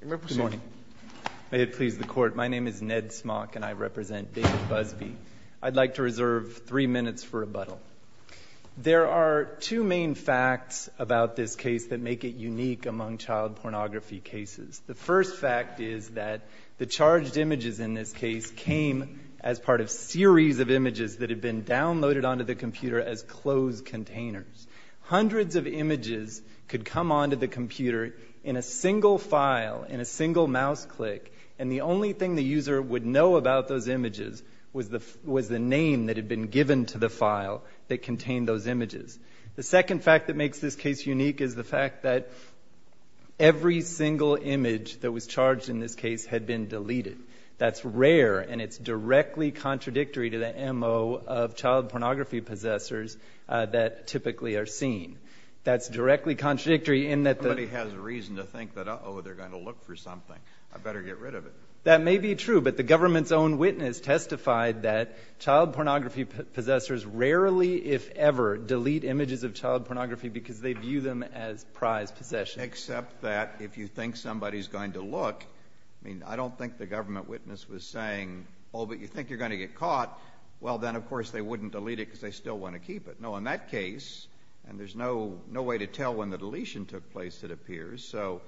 Good morning. May it please the Court, my name is Ned Smock and I represent David Busby. I'd like to reserve three minutes for rebuttal. There are two main facts about this case that make it unique among child pornography cases. The first fact is that the charged images in this case came as part of a series of images that had been downloaded onto the computer as closed containers. Hundreds of images could come onto the computer in a single file, in a single mouse click, and the only thing the user would know about those images was the name that had been given to the file that contained those images. The second fact that makes this case unique is the fact that every single image that was charged in this case had been deleted. That's rare, and it's directly contradictory to the MO of child pornography possessors that typically are seen. That's directly contradictory in that the — Somebody has a reason to think that, uh-oh, they're going to look for something. I better get rid of it. That may be true, but the government's own witness testified that child pornography possessors rarely, if ever, delete images of child pornography because they view them as prized possessions. Except that if you think somebody's going to look, I mean, I don't think the government witness was saying, oh, but you think you're going to get caught, well, then, of course, they wouldn't delete it because they still want to keep it. No, in that case, and there's no way to tell when the deletion took place, it appears, so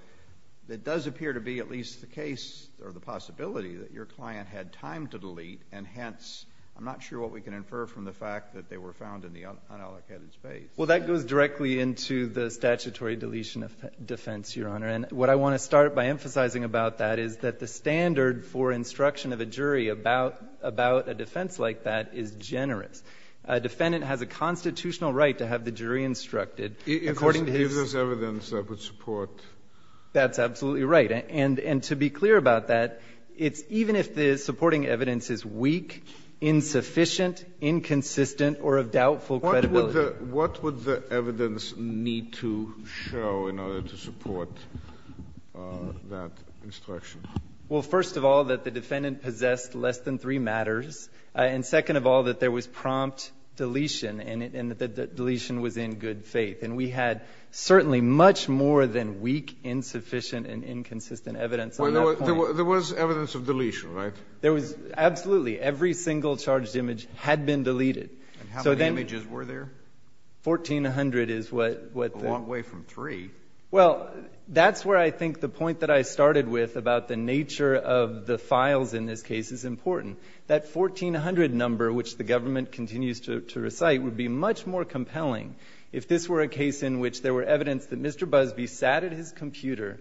it does appear to be at least the case or the possibility that your client had time to delete, and hence, I'm not sure what we can infer from the fact that they were found in the unallocated space. Well, that goes directly into the statutory deletion of defense, Your Honor. And what I want to start by emphasizing about that is that the standard for instruction of a jury about a defense like that is generous. A defendant has a constitutional right to have the jury instructed according to his — If there's evidence that would support — That's absolutely right. And to be clear about that, it's even if the supporting evidence is weak, insufficient, inconsistent, or of doubtful credibility. What would the evidence need to show in order to support that instruction? Well, first of all, that the defendant possessed less than three matters. And second of all, that there was prompt deletion and that the deletion was in good faith. And we had certainly much more than weak, insufficient, and inconsistent evidence at that point. There was evidence of deletion, right? There was. Absolutely. Every single charged image had been deleted. And how many images were there? 1,400 is what the — A long way from three. Well, that's where I think the point that I started with about the nature of the files in this case is important. That 1,400 number, which the government continues to recite, would be much more compelling if this were a case in which there were evidence that Mr. Busbee sat at his computer,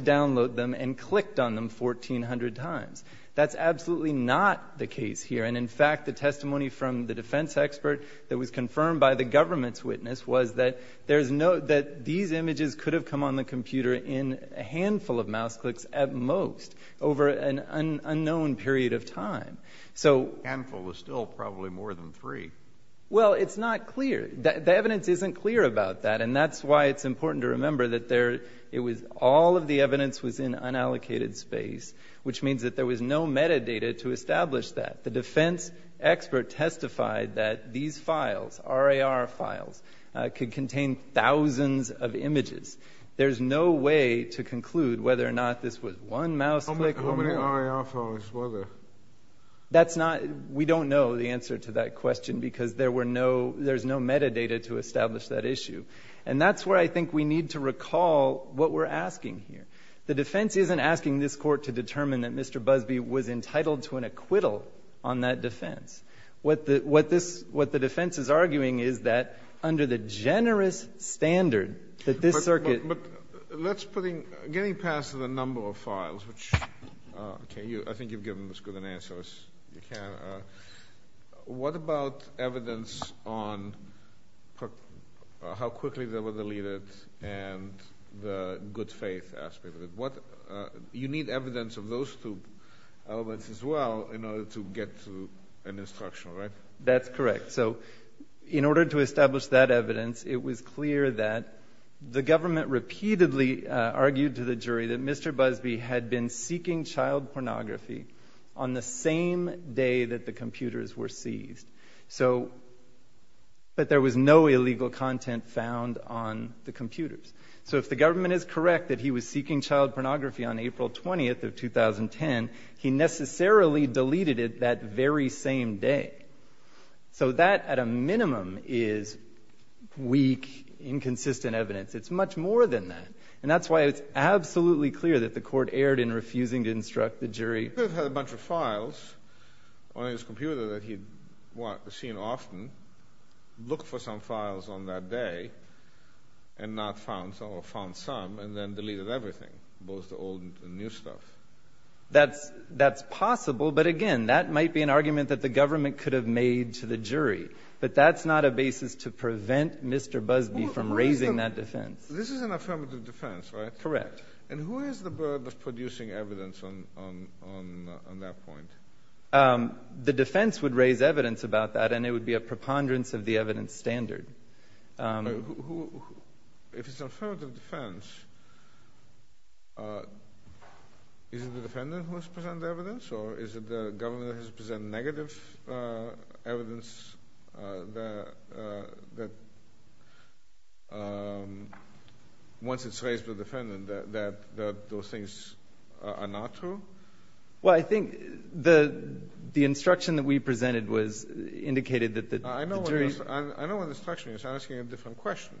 downloaded them, and clicked on them 1,400 times. That's absolutely not the case here. And in fact, the testimony from the defense expert that was confirmed by the government's witness was that there's no — that these images could have come on the computer in a handful of mouse clicks at most over an unknown period of time. So — A handful was still probably more than three. Well, it's not clear. The evidence isn't clear about that. And that's why it's important to remember that there — it was — all of the evidence was in unallocated space, which means that there was no metadata to establish that. The defense expert testified that these files, RAR files, could contain thousands of images. There's no way to conclude whether or not this was one mouse click — How many RAR files were there? That's not — we don't know the answer to that question because there were no — And that's where I think we need to recall what we're asking here. The defense isn't asking this Court to determine that Mr. Busbee was entitled to an acquittal on that defense. What the — what this — what the defense is arguing is that under the generous standard that this circuit — But let's put in — getting past the number of files, which — okay, you — I think you've given as good an answer as you can. What about evidence on how quickly they were deleted and the good faith aspect of it? What — you need evidence of those two elements as well in order to get to an instruction, right? That's correct. So in order to establish that evidence, it was clear that the government repeatedly argued to the jury that Mr. Busbee had been seeking child pornography on the same day that the computers were seized. So — but there was no illegal content found on the computers. So if the government is correct that he was seeking child pornography on April 20th of 2010, he necessarily deleted it that very same day. So that, at a minimum, is weak, inconsistent evidence. It's much more than that. And that's why it's absolutely clear that the Court erred in refusing to instruct the jury. He could have had a bunch of files on his computer that he'd seen often, looked for some files on that day, and not found some, or found some, and then deleted everything, both the old and new stuff. That's possible. But again, that might be an argument that the government could have made to the jury. But that's not a basis to prevent Mr. Busbee from raising that defense. This is an affirmative defense, right? Correct. And who is the burden of producing evidence on that point? The defense would raise evidence about that, and it would be a preponderance of the evidence standard. If it's an affirmative defense, is it the defendant who has to present the evidence, or is it the government that has to present negative evidence that, once it's raised to the defendant, that those things are not true? Well, I think the instruction that we presented indicated that the jury was— I know what the instruction is. I'm asking a different question.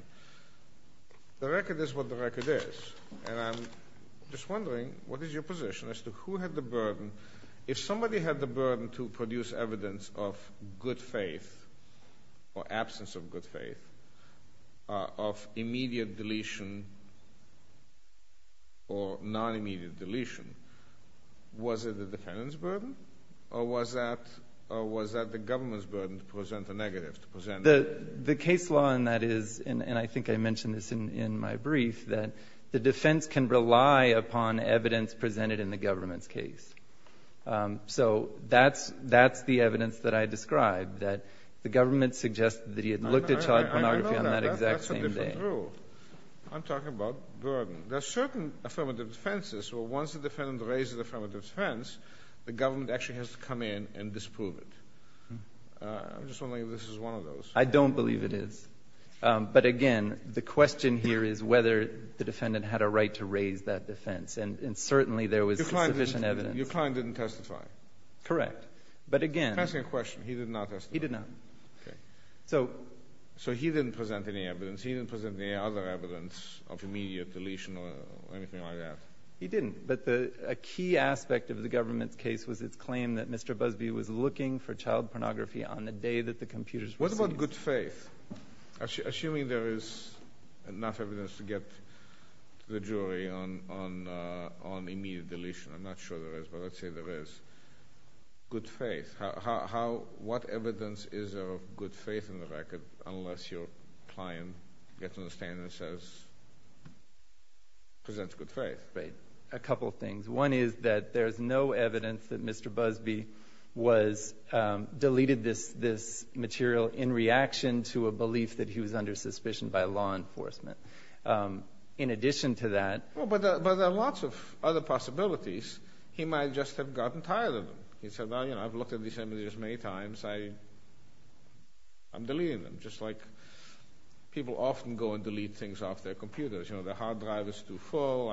The record is what the record is. And I'm just wondering, what is your position as to who had the burden? If somebody had the burden to produce evidence of good faith or absence of good faith, of immediate deletion or non-immediate deletion, was it the defendant's burden, or was that the government's burden to present a negative, to present— The case law in that is, and I think I mentioned this in my brief, that the defense can rely upon evidence presented in the government's case. So that's the evidence that I described, that the government suggested that he had looked at child pornography on that exact same day. I know that. That's a different rule. I'm talking about burden. There are certain affirmative defenses where, once the defendant raises the affirmative defense, the government actually has to come in and disprove it. I'm just wondering if this is one of those. I don't believe it is. But again, the question here is whether the defendant had a right to raise that defense. And certainly there was sufficient evidence. Your client didn't testify. Correct. But again— I'm asking a question. He did not testify. He did not. Okay. So he didn't present any evidence. He didn't present any other evidence of immediate deletion or anything like that. He didn't. But a key aspect of the government's case was its claim that Mr. Busby was looking for child pornography on the day that the computers— What about good faith? Assuming there is enough evidence to get the jury on immediate deletion. I'm not sure there is, but let's say there is. Good faith. What evidence is of good faith in the record unless your client gets on the stand and says—presents good faith? A couple things. One is that there is no evidence that Mr. Busby deleted this material in reaction to a belief that he was under suspicion by law enforcement. In addition to that— But there are lots of other possibilities. He might just have gotten tired of them. He said, well, you know, I've looked at these images many times. I'm deleting them. Just like people often go and delete things off their computers. You know, the hard drive is too full.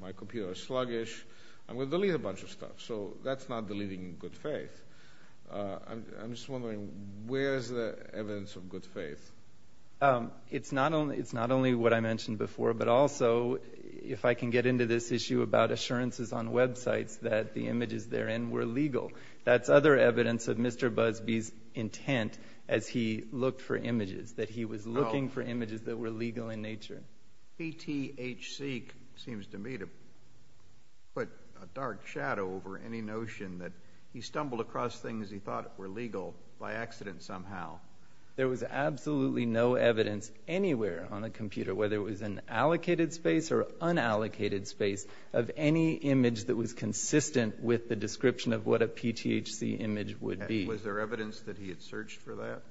My computer is sluggish. I'm going to delete a bunch of stuff. So that's not deleting in good faith. I'm just wondering, where is the evidence of good faith? It's not only what I mentioned before, but also if I can get into this issue about assurances on websites that the images therein were legal. That's other evidence of Mr. Busby's intent as he looked for images, that he was looking for images that were legal in nature. BTHC seems to me to put a dark shadow over any notion that he stumbled across things he thought were legal by accident somehow. There was absolutely no evidence anywhere on the computer, whether it was in allocated space or unallocated space, of any image that was consistent with the description of what a BTHC image would be. Was there evidence that he had searched for that?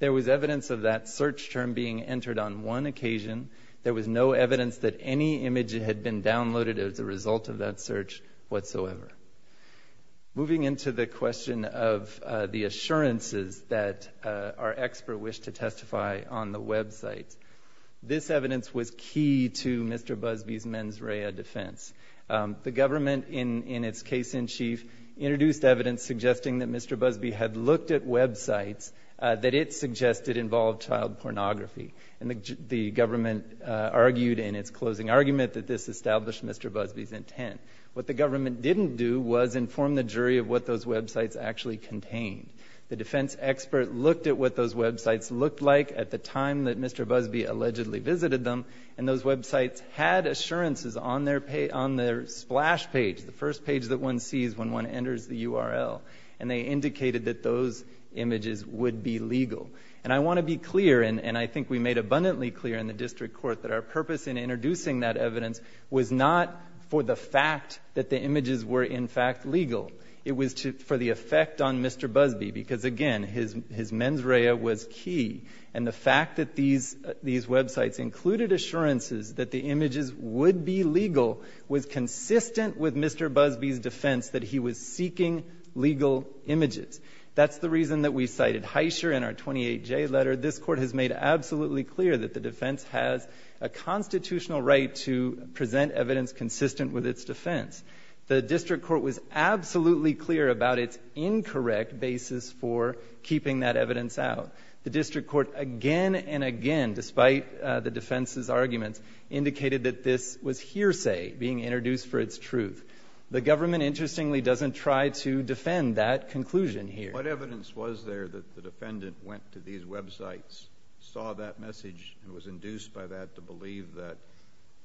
There was evidence of that search term being entered on one occasion. There was no evidence that any image had been downloaded as a result of that search whatsoever. Moving into the question of the assurances that our expert wished to testify on the website, this evidence was key to Mr. Busby's mens rea defense. The government, in its case in chief, introduced evidence suggesting that Mr. Busby had looked at websites that it suggested involved child pornography. And the government argued in its closing argument that this established Mr. Busby's intent. What the government didn't do was inform the jury of what those websites actually contained. The defense expert looked at what those websites looked like at the time that Mr. Busby allegedly visited them. And those websites had assurances on their splash page, the first page that one sees when one enters the URL. And they indicated that those images would be legal. And I want to be clear, and I think we made abundantly clear in the district court that our purpose in introducing that evidence was not for the fact that the images were, in fact, legal. It was for the effect on Mr. Busby, because, again, his mens rea was key. And the fact that these websites included assurances that the images would be legal was consistent with Mr. Busby's defense that he was seeking legal images. That's the reason that we cited Heischer in our 28J letter. This Court has made absolutely clear that the defense has a constitutional right to present evidence consistent with its defense. The district court was absolutely clear about its incorrect basis for keeping that evidence out. The district court again and again, despite the defense's arguments, indicated that this was hearsay being introduced for its truth. The government, interestingly, doesn't try to defend that conclusion here. What evidence was there that the defendant went to these websites, saw that message, and was induced by that to believe that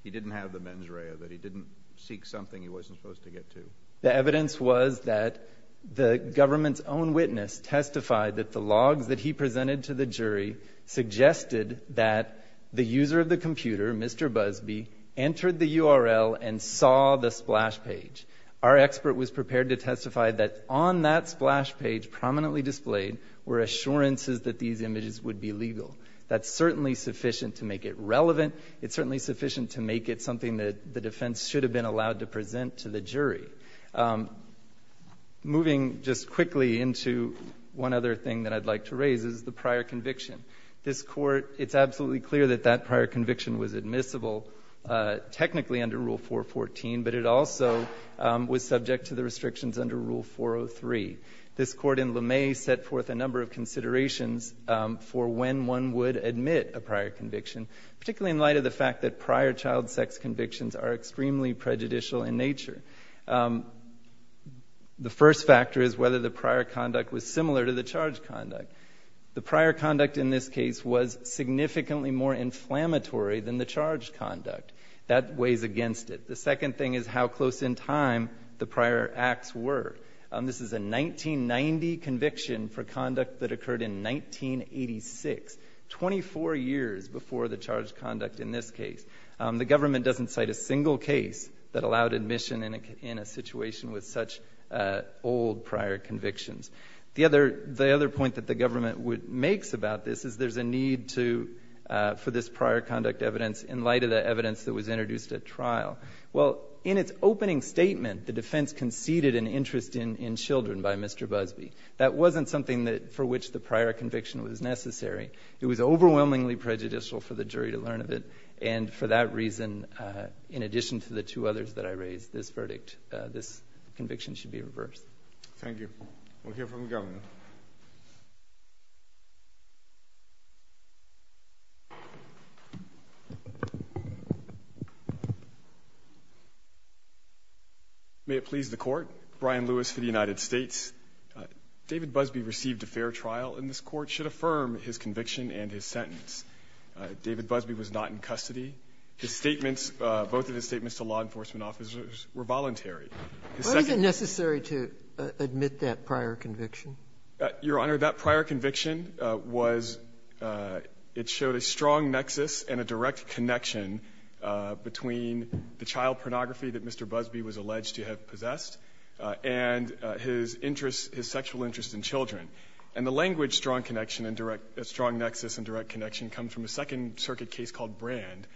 he didn't have the mens rea, that he didn't seek something he wasn't supposed to get to? The evidence was that the government's own witness testified that the logs that he presented to the jury suggested that the user of the computer, Mr. Busby, entered the URL and saw the splash page. Our expert was prepared to testify that on that splash page prominently displayed were assurances that these images would be legal. That's certainly sufficient to make it relevant. It's certainly sufficient to make it something that the defense should have been allowed to present to the jury. Moving just quickly into one other thing that I'd like to raise is the prior conviction. This Court, it's absolutely clear that that prior conviction was admissible technically under Rule 414, but it also was subject to the restrictions under Rule 403. This Court in LeMay set forth a number of considerations for when one would admit a prior conviction, particularly in light of the fact that prior child sex convictions are extremely prejudicial in nature. The first factor is whether the prior conduct was similar to the charge conduct. The prior conduct in this case was significantly more inflammatory than the charge conduct. That weighs against it. The second thing is how close in time the prior acts were. This is a 1990 conviction for conduct that occurred in 1986, 24 years before the charge conduct in this case. The government doesn't cite a single case that allowed admission in a situation with such old prior convictions. The other point that the government makes about this is there's a need to, for this prior conduct evidence in light of the evidence that was introduced at trial. Well, in its opening statement, the defense conceded an interest in children by Mr. Busby. That wasn't something for which the prior conviction was necessary. It was overwhelmingly prejudicial for the jury to learn of it, and for that reason, in addition to the two others that I raised, this verdict, this conviction should be reversed. Thank you. We'll hear from the government. May it please the Court. Brian Lewis for the United States. David Busby received a fair trial, and this Court should affirm his conviction and his sentence. David Busby was not in custody. His statements, both of his statements to law enforcement officers, were voluntary. Why is it necessary to admit that prior conviction? Your Honor, that prior conviction was, it showed a strong nexus and a direct connection between the child pornography that Mr. Busby was alleged to have possessed and his interest, his sexual interest in children. And the language, strong connection and direct, strong nexus and direct connection comes from a second circuit case called Brand,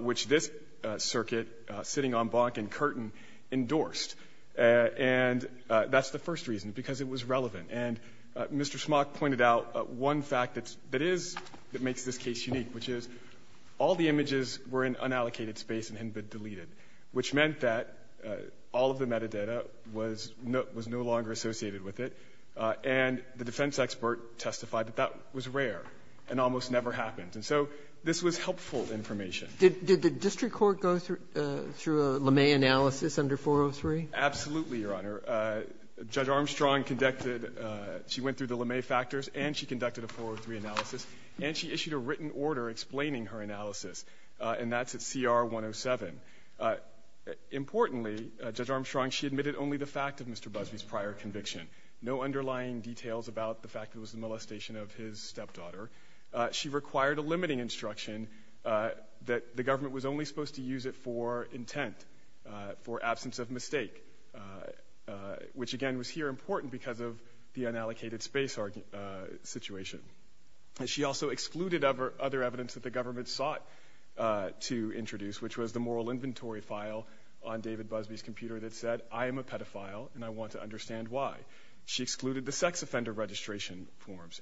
which this circuit, sitting on Bonk and Curtin, endorsed. And that's the first reason, because it was relevant. And Mr. Schmock pointed out one fact that is, that makes this case unique, which is all the images were in unallocated space and hadn't been deleted, which meant that all of the metadata was no longer associated with it. And the defense expert testified that that was rare and almost never happened. And so this was helpful information. Did the district court go through a LeMay analysis under 403? Absolutely, Your Honor. Judge Armstrong conducted, she went through the LeMay factors and she conducted a 403 analysis, and she issued a written order explaining her analysis. And that's at CR 107. Importantly, Judge Armstrong, she admitted only the fact of Mr. Busby's prior conviction. No underlying details about the fact that it was a molestation of his stepdaughter. She required a limiting instruction that the government was only supposed to use it for intent, for absence of mistake, which again was here important because of the unallocated space situation. She also excluded other evidence that the government sought to introduce, which was the moral inventory file on David Busby's computer that said, I am a pedophile and I want to understand why. She excluded the sex offender registration forms.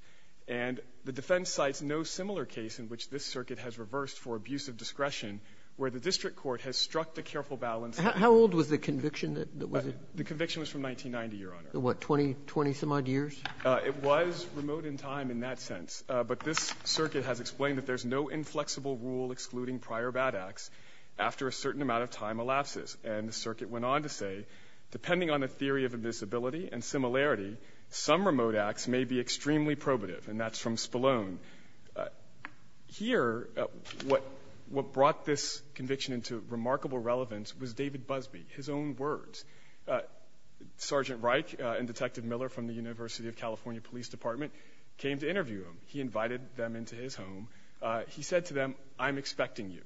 And the defense cites no similar case in which this circuit has reversed for abusive discretion where the district court has struck the careful balance. How old was the conviction that was it? The conviction was from 1990, Your Honor. The what, 20-some-odd years? It was remote in time in that sense. But this circuit has explained that there's no inflexible rule excluding prior bad acts after a certain amount of time elapses. And the circuit went on to say, depending on the theory of invisibility and similarity, some remote acts may be extremely probative. And that's from Spallone. Here, what brought this conviction into remarkable relevance was David Busby, his own words. Sergeant Reich and Detective Miller from the University of California Police Department came to interview him. He invited them into his home. He said to them, I'm expecting you.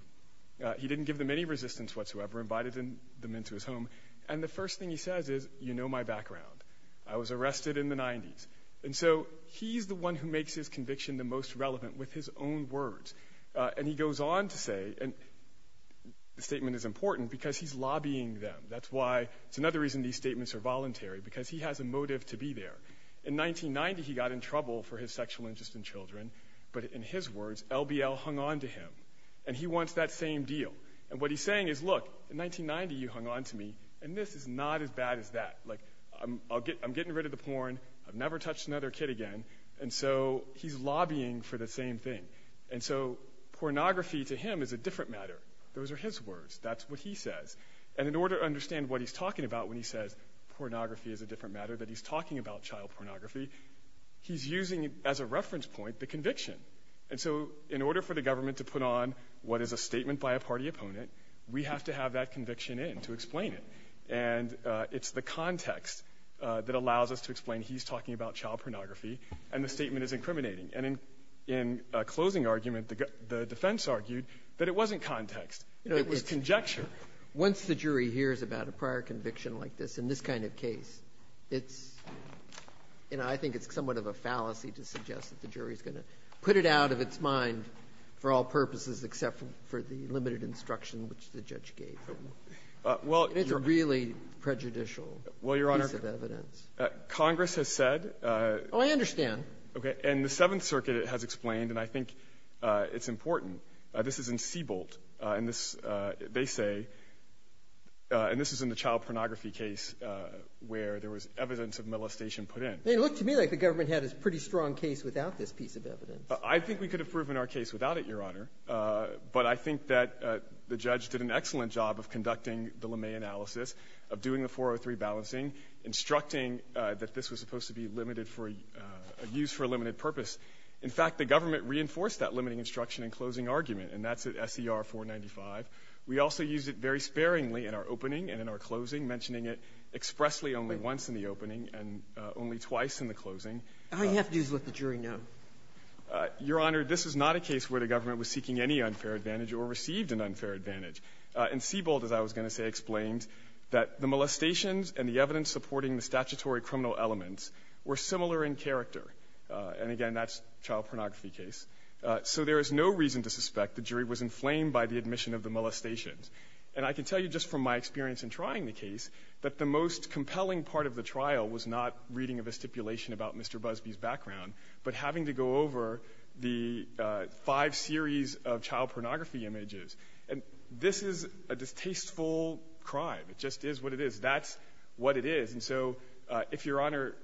He didn't give them any resistance whatsoever, invited them into his home. And the first thing he says is, you know my background. I was arrested in the 90s. And so he's the one who makes his conviction the most relevant with his own words. And he goes on to say, the statement is important because he's lobbying them. That's why, it's another reason these statements are voluntary, because he has a motive to be there. In 1990, he got in trouble for his sexual interest in children. But in his words, LBL hung on to him. And he wants that same deal. And what he's saying is, look, in 1990, you hung on to me. And this is not as bad as that. Like, I'm getting rid of the porn. I've never touched another kid again. And so he's lobbying for the same thing. And so pornography to him is a different matter. Those are his words. That's what he says. And in order to understand what he's talking about when he says pornography is a different matter, that he's talking about child pornography, he's using, as a reference point, the conviction. And so in order for the government to put on what is a statement by a party opponent, we have to have that conviction in to explain it. And it's the context that allows us to explain he's talking about child pornography and the statement is incriminating. And in a closing argument, the defense argued that it wasn't context. It was conjecture. Once the jury hears about a prior conviction like this, in this kind of case, it's I think it's somewhat of a fallacy to suggest that the jury is going to put it out of its mind for all purposes except for the limited instruction which the judge gave him. And it's a really prejudicial piece of evidence. Well, Your Honor, Congress has said. Oh, I understand. Okay. And the Seventh Circuit has explained, and I think it's important. This is in Seabolt. And this, they say, and this is in the child pornography case where there was evidence of molestation put in. It looked to me like the government had a pretty strong case without this piece of evidence. I think we could have proven our case without it, Your Honor. But I think that the judge did an excellent job of conducting the LeMay analysis, of doing the 403 balancing, instructing that this was supposed to be limited for a use for a limited purpose. In fact, the government reinforced that limiting instruction in closing argument, and that's at SER 495. We also used it very sparingly in our opening and in our closing, mentioning it expressly only once in the opening and only twice in the closing. All you have to do is let the jury know. Your Honor, this is not a case where the government was seeking any unfair advantage or received an unfair advantage. In Seabolt, as I was going to say, explained that the molestations and the evidence supporting the statutory criminal elements were similar in character. And again, that's child pornography case. So there is no reason to suspect the jury was inflamed by the admission of the molestations. And I can tell you just from my experience in trying the case that the most compelling part of the trial was not reading a stipulation about Mr. Busbee's background, but having to go over the five series of child pornography images. And this is a distasteful crime. It just is what it is. That's what it is. And so if Your Honor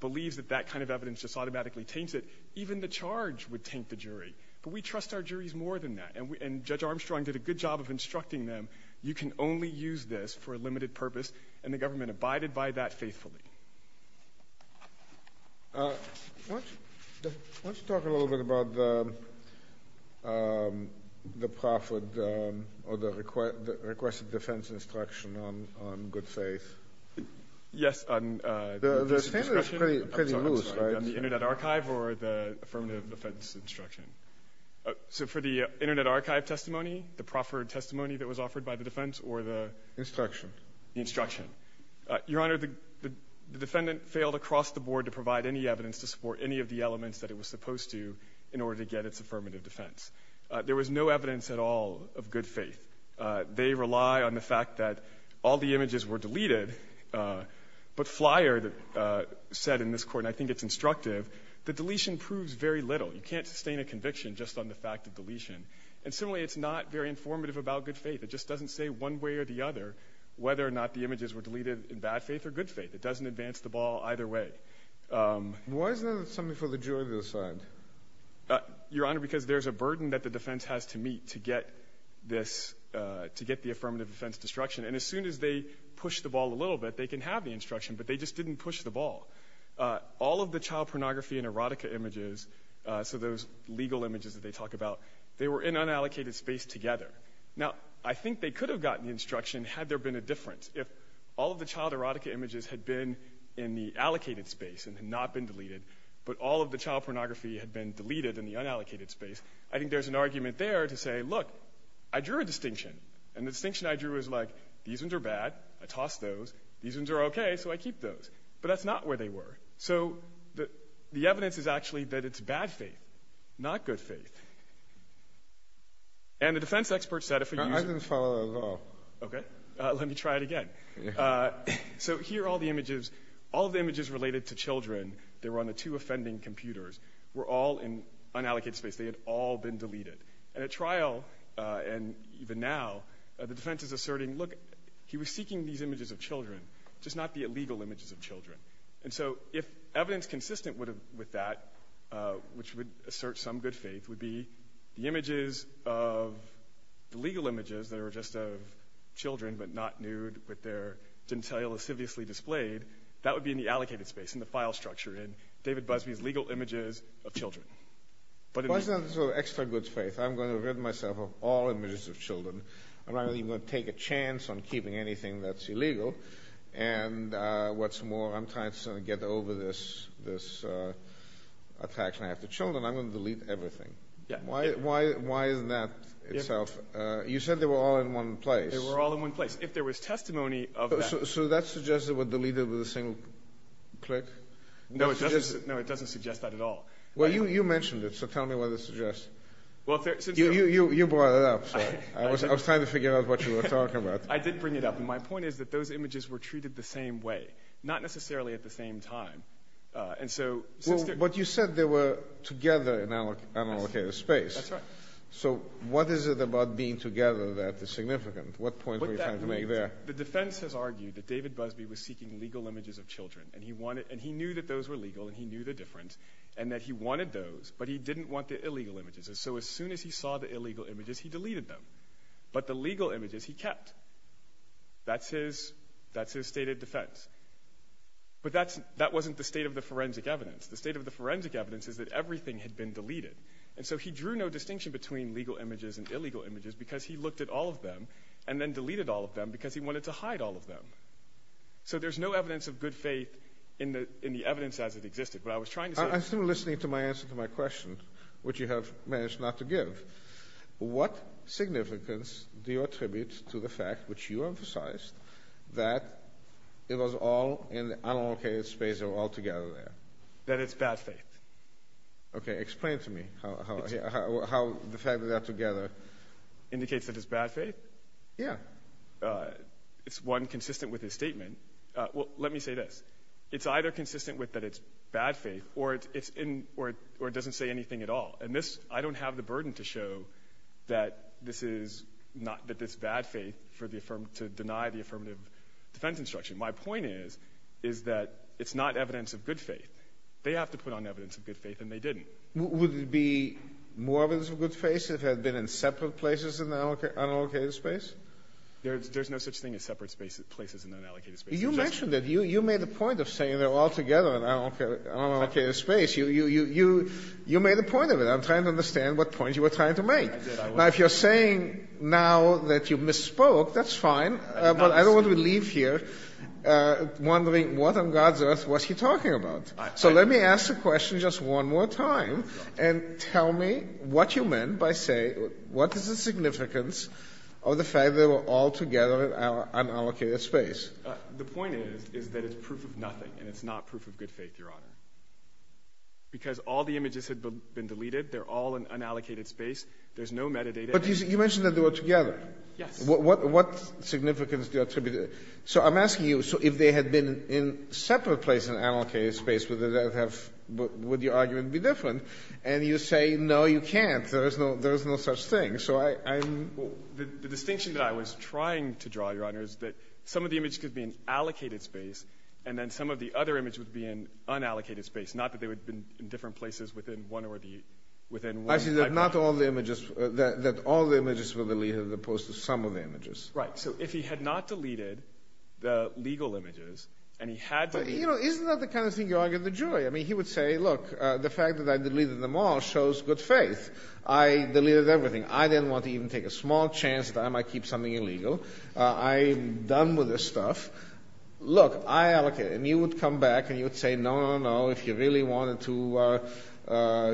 believes that that kind of evidence just automatically taints it, even the charge would taint the jury. But we trust our juries more than that. And Judge Armstrong did a good job of instructing them. You can only use this for a limited purpose, and the government abided by that faithfully. Let's talk a little bit about the requested defense instruction on good faith. Yes. The standard is pretty loose, right? I'm sorry. On the Internet Archive or the affirmative defense instruction? So for the Internet Archive testimony, the proffered testimony that was offered by the defense or the? Instruction. The instruction. Your Honor, the defendant failed across the board to provide any evidence to support any of the elements that it was supposed to in order to get its affirmative defense. There was no evidence at all of good faith. They rely on the fact that all the images were deleted, but Flier said in this court, and I think it's instructive, the deletion proves very little. You can't sustain a conviction just on the fact of deletion. And similarly, it's not very informative about good faith. It just doesn't say one way or the other whether or not the images were deleted in bad faith or good faith. It doesn't advance the ball either way. Why isn't there something for the jury to decide? Your Honor, because there's a burden that the defense has to meet to get this, to get the affirmative defense instruction. And as soon as they push the ball a little bit, they can have the instruction, but they just didn't push the ball. All of the child pornography and erotica images, so those legal images that they talk about, they were in unallocated space together. Now, I think they could have gotten the instruction had there been a difference. If all of the child erotica images had been in the allocated space and had not been deleted, but all of the child pornography had been deleted in the unallocated space, I think there's an argument there to say, look, I drew a distinction. And the distinction I drew was like, these ones are bad. I tossed those. These ones are okay, so I keep those. But that's not where they were. So the evidence is actually that it's bad faith, not good faith. And the defense expert said if a user – I didn't follow that at all. Okay. Let me try it again. So here are all the images. All of the images related to children that were on the two offending computers were all in unallocated space. They had all been deleted. And at trial, and even now, the defense is asserting, look, he was seeking these images of children. And so if evidence consistent with that, which would assert some good faith, would be the images of – the legal images that are just of children, but not nude, but they're didn't tell you, lasciviously displayed, that would be in the allocated space, in the file structure, in David Busby's legal images of children. But it was – Well, it's not an extra good faith. I'm going to rid myself of all images of children. I'm not even going to take a chance on keeping anything that's illegal. And what's more, I'm trying to get over this attack. And I have the children. I'm going to delete everything. Why isn't that itself – you said they were all in one place. They were all in one place. If there was testimony of that – So that suggests it was deleted with a single click? No, it doesn't suggest that at all. Well, you mentioned it, so tell me what it suggests. You brought it up. I was trying to figure out what you were talking about. I did bring it up. My point is that those images were treated the same way, not necessarily at the same time. And so – Well, but you said they were together in an allocated space. That's right. So what is it about being together that is significant? What point were you trying to make there? The defense has argued that David Busby was seeking legal images of children, and he knew that those were legal, and he knew the difference, and that he wanted those, but he didn't want the illegal images. And so as soon as he saw the illegal images, he deleted them. But the legal images he kept. That's his stated defense. But that wasn't the state of the forensic evidence. The state of the forensic evidence is that everything had been deleted. And so he drew no distinction between legal images and illegal images because he looked at all of them and then deleted all of them because he wanted to hide all of them. So there's no evidence of good faith in the evidence as it existed. But I was trying to say – I'm still listening to my answer to my question, which you have managed not to give. What significance do you attribute to the fact, which you emphasized, that it was all in the unlocated space of all together there? That it's bad faith. Okay, explain to me how the fact that they're together. Indicates that it's bad faith? Yeah. It's one consistent with his statement. Well, let me say this. It's either consistent with that it's bad faith or it doesn't say anything at all. And this – I don't have the burden to show that this is not – that it's bad faith to deny the affirmative defense instruction. My point is, is that it's not evidence of good faith. They have to put on evidence of good faith, and they didn't. Would it be more evidence of good faith if it had been in separate places in the unallocated space? There's no such thing as separate places in the unallocated space. You mentioned it. You made the point of saying they're all together in unallocated space. You made the point of it. I'm trying to understand what point you were trying to make. Now, if you're saying now that you misspoke, that's fine. But I don't want to leave here wondering what on God's earth was he talking about. So let me ask the question just one more time, and tell me what you meant by saying what is the significance of the fact they were all together in unallocated space? The point is, is that it's proof of nothing, and it's not proof of good faith, Your Honor. Because all the images had been deleted. They're all in unallocated space. There's no metadata. But you mentioned that they were together. Yes. What significance do you attribute it? So I'm asking you, so if they had been in separate places in unallocated space, would your argument be different? And you say, no, you can't. There is no such thing. The distinction that I was trying to draw, Your Honor, is that some of the images could be in allocated space, and then some of the other images would be in unallocated space, not that they would have been in different places within one library. I see that all the images were deleted as opposed to some of the images. Right. So if he had not deleted the legal images, and he had deleted them. Isn't that the kind of thing you argue with the jury? I mean, he would say, look, the fact that I deleted them all shows good faith. I deleted everything. I didn't want to even take a small chance that I might keep something illegal. I'm done with this stuff. Look, I allocated it. And he would come back, and he would say, no, no, no. If you really wanted to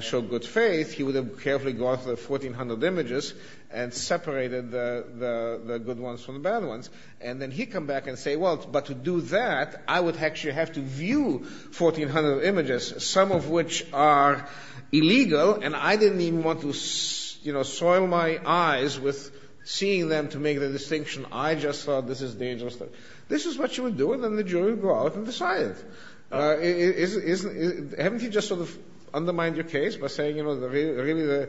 show good faith, he would have carefully gone through the 1,400 images and separated the good ones from the bad ones. And then he'd come back and say, well, but to do that, I would actually have to view 1,400 images, some of which are illegal, and I didn't even want to, you know, soil my eyes with seeing them to make the distinction I just thought this is dangerous. This is what you would do. And then the jury would go out and decide. Isn't he just sort of undermined your case by saying, you know, really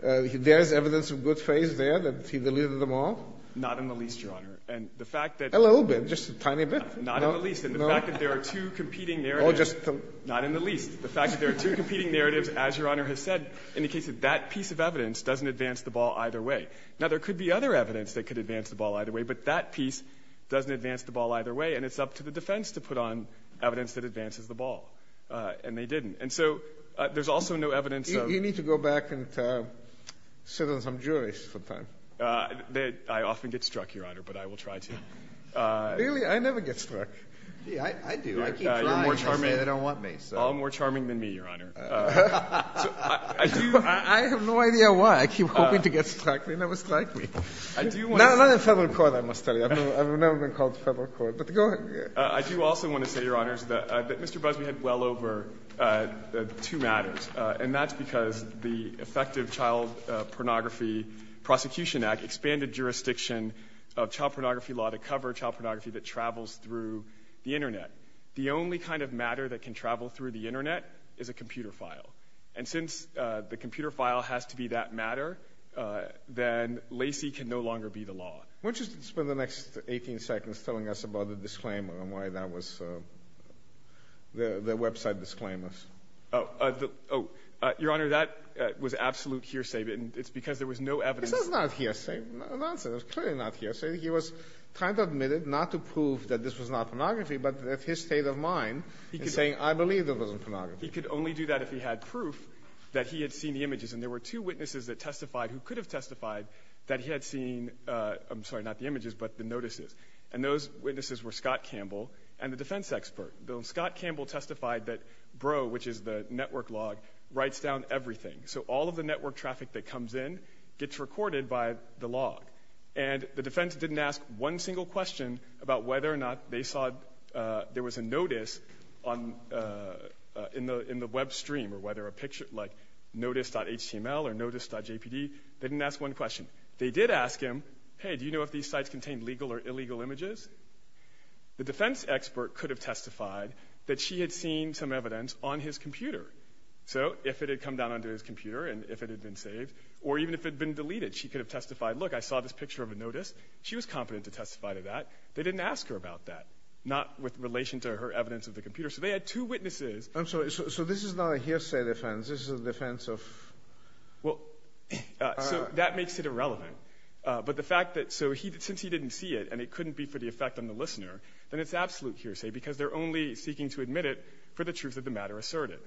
there is evidence of good faith there, that he deleted them all? Not in the least, Your Honor. And the fact that. A little bit. Just a tiny bit. Not in the least. And the fact that there are two competing narratives. Not in the least. The fact that there are two competing narratives, as Your Honor has said, indicates that that piece of evidence doesn't advance the ball either way. Now, there could be other evidence that could advance the ball either way, but that piece doesn't advance the ball either way, and it's up to the defense to put on evidence that advances the ball, and they didn't. And so there's also no evidence of. You need to go back and sit on some juries sometime. I often get struck, Your Honor, but I will try to. Really? I never get struck. I do. I keep trying. They say they don't want me. All more charming than me, Your Honor. I have no idea why. I keep hoping to get struck. They never strike me. Not in federal court, I must tell you. I've never been called to federal court. But go ahead. I do also want to say, Your Honors, that Mr. Busbee had well over two matters, and that's because the effective Child Pornography Prosecution Act expanded jurisdiction of child pornography law to cover child pornography that travels through the Internet. The only kind of matter that can travel through the Internet is a computer file. And since the computer file has to be that matter, then LACI can no longer be the law. Why don't you spend the next 18 seconds telling us about the disclaimer and why that was the website disclaimers? Oh, Your Honor, that was absolute hearsay, and it's because there was no evidence. This is not hearsay. It's clearly not hearsay. He was trying to admit it, not to prove that this was not pornography, but that his state of mind is saying, I believe that it wasn't pornography. He could only do that if he had proof that he had seen the images. And there were two witnesses that testified, who could have testified, that he had seen, I'm sorry, not the images, but the notices. And those witnesses were Scott Campbell and the defense expert. Scott Campbell testified that Bro, which is the network log, writes down everything. So all of the network traffic that comes in gets recorded by the log. And the defense didn't ask one single question about whether or not they saw there was a notice in the web stream or whether a picture, like notice.html or notice.jpd. They didn't ask one question. They did ask him, hey, do you know if these sites contain legal or illegal images? The defense expert could have testified that she had seen some evidence on his computer. So if it had come down onto his computer and if it had been saved, or even if it had been deleted, she could have testified, look, I saw this picture of a notice. She was competent to testify to that. They didn't ask her about that, not with relation to her evidence of the computer. So they had two witnesses. Scalia. I'm sorry. So this is not a hearsay defense. This is a defense of ---- Fisher. Well, so that makes it irrelevant. But the fact that so since he didn't see it and it couldn't be for the effect on the listener, then it's absolute hearsay because they're only seeking to admit it for the truth of the matter asserted.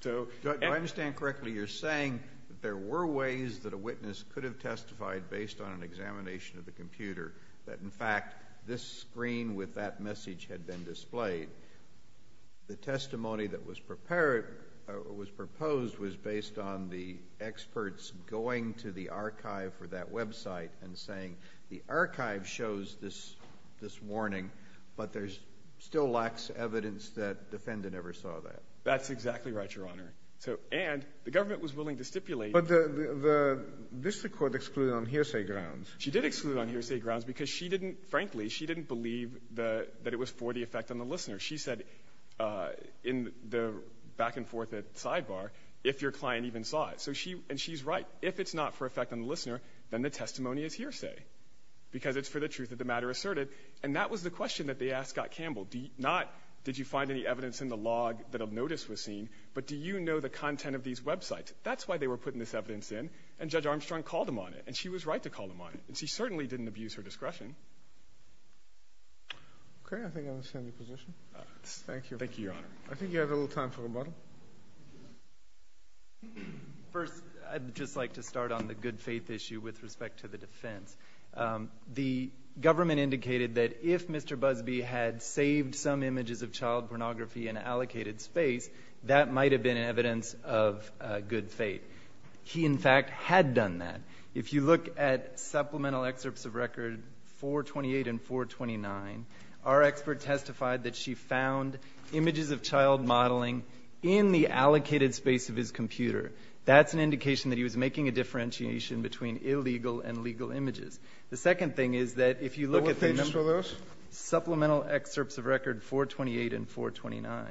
So ---- If I understand correctly, you're saying that there were ways that a witness could have testified based on an examination of the computer that, in fact, this screen with that message had been displayed. The testimony that was prepared or was proposed was based on the experts going to the archive for that website and saying the archive shows this warning, but there's still lax evidence that defendant ever saw that. That's exactly right, Your Honor. And the government was willing to stipulate ---- But the district court excluded on hearsay grounds. She did exclude on hearsay grounds because she didn't ---- frankly, she didn't believe that it was for the effect on the listener. She said in the back-and-forth at sidebar, if your client even saw it. So she ---- and she's right. If it's not for effect on the listener, then the testimony is hearsay because it's for the truth of the matter asserted. And that was the question that they asked Scott Campbell, not did you find any evidence in the log that a notice was seen, but do you know the content of these websites? That's why they were putting this evidence in, and Judge Armstrong called them on it, and she was right to call them on it. And she certainly didn't abuse her discretion. Okay. I think I understand your position. Thank you. Thank you, Your Honor. I think you have a little time for rebuttal. First, I'd just like to start on the good faith issue with respect to the defense. The government indicated that if Mr. Busbee had saved some images of child pornography in allocated space, that might have been evidence of good faith. He, in fact, had done that. If you look at supplemental excerpts of record 428 and 429, our expert testified that she found images of child modeling in the allocated space of his computer. That's an indication that he was making a differentiation between illegal and legal images. The second thing is that if you look at the number of supplemental excerpts of record 428 and 429,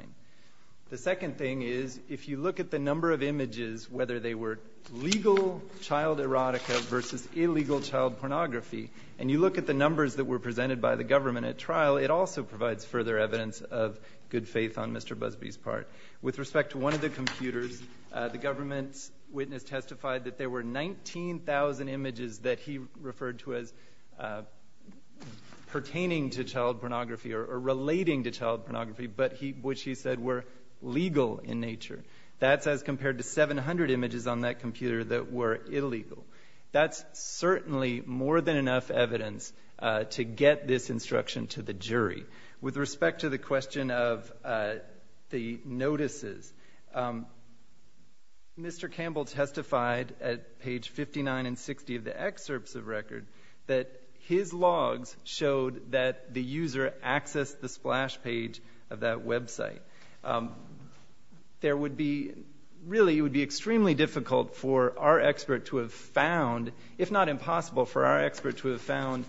the second thing is if you look at the number of images, whether they were legal child erotica versus illegal child pornography, and you look at the numbers that were presented by the government at trial, it also provides further evidence of good faith on Mr. Busbee's part. With respect to one of the computers, the government's witness testified that there were 19,000 images that he referred to as pertaining to child pornography or relating to child pornography, but which he said were legal in nature. That's as compared to 700 images on that computer that were illegal. That's certainly more than enough evidence to get this instruction to the jury. With respect to the question of the notices, Mr. Campbell testified at page 59 and 60 of the excerpts of record that his logs showed that the user accessed the splash page of that website. There would be really, it would be extremely difficult for our expert to have found, if not impossible for our expert to have found,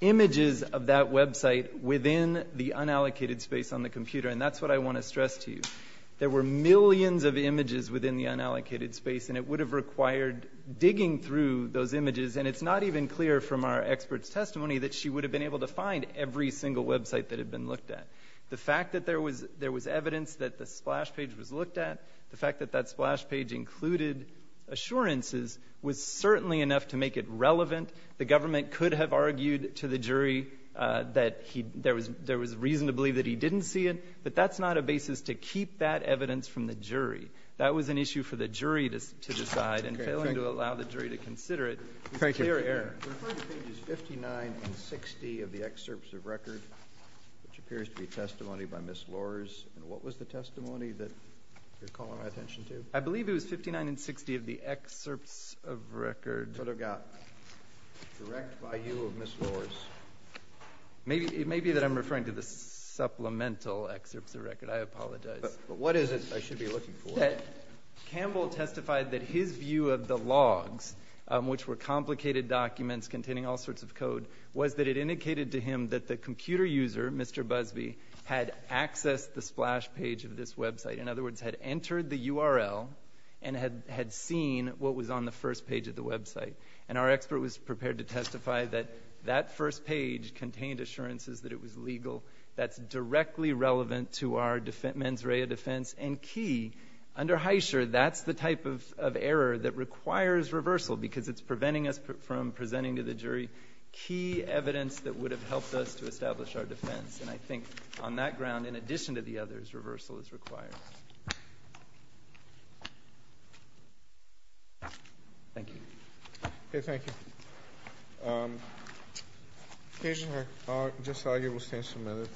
images of that website within the unallocated space on the computer, and that's what I want to stress to you. There were millions of images within the unallocated space, and it would have required digging through those images, and it's not even clear from our expert's testimony that she would have been able to find every single website that had been looked at. The fact that there was evidence that the splash page was looked at, the fact that that splash page included assurances was certainly enough to make it relevant. The government could have argued to the jury that there was reason to believe that he didn't see it, but that's not a basis to keep that evidence from the jury. That was an issue for the jury to decide, and failing to allow the jury to consider it is clear error. I'm referring to pages 59 and 60 of the excerpts of record, which appears to be testimony by Ms. Lors. What was the testimony that you're calling my attention to? I believe it was 59 and 60 of the excerpts of record. That's what I've got. Direct by you of Ms. Lors. It may be that I'm referring to the supplemental excerpts of record. I apologize. But what is it I should be looking for? Campbell testified that his view of the logs, which were complicated documents containing all sorts of code, was that it indicated to him that the computer user, Mr. Busby, had accessed the splash page of this website. In other words, had entered the URL and had seen what was on the first page of the website. And our expert was prepared to testify that that first page contained assurances that it was legal. That's directly relevant to our mens rea defense. And key, under Heischer, that's the type of error that requires reversal because it's preventing us from presenting to the jury key evidence that would have helped us to establish our defense. And I think on that ground, in addition to the others, reversal is required. Thank you. Okay. Okay. Just argue we'll stand for a minute.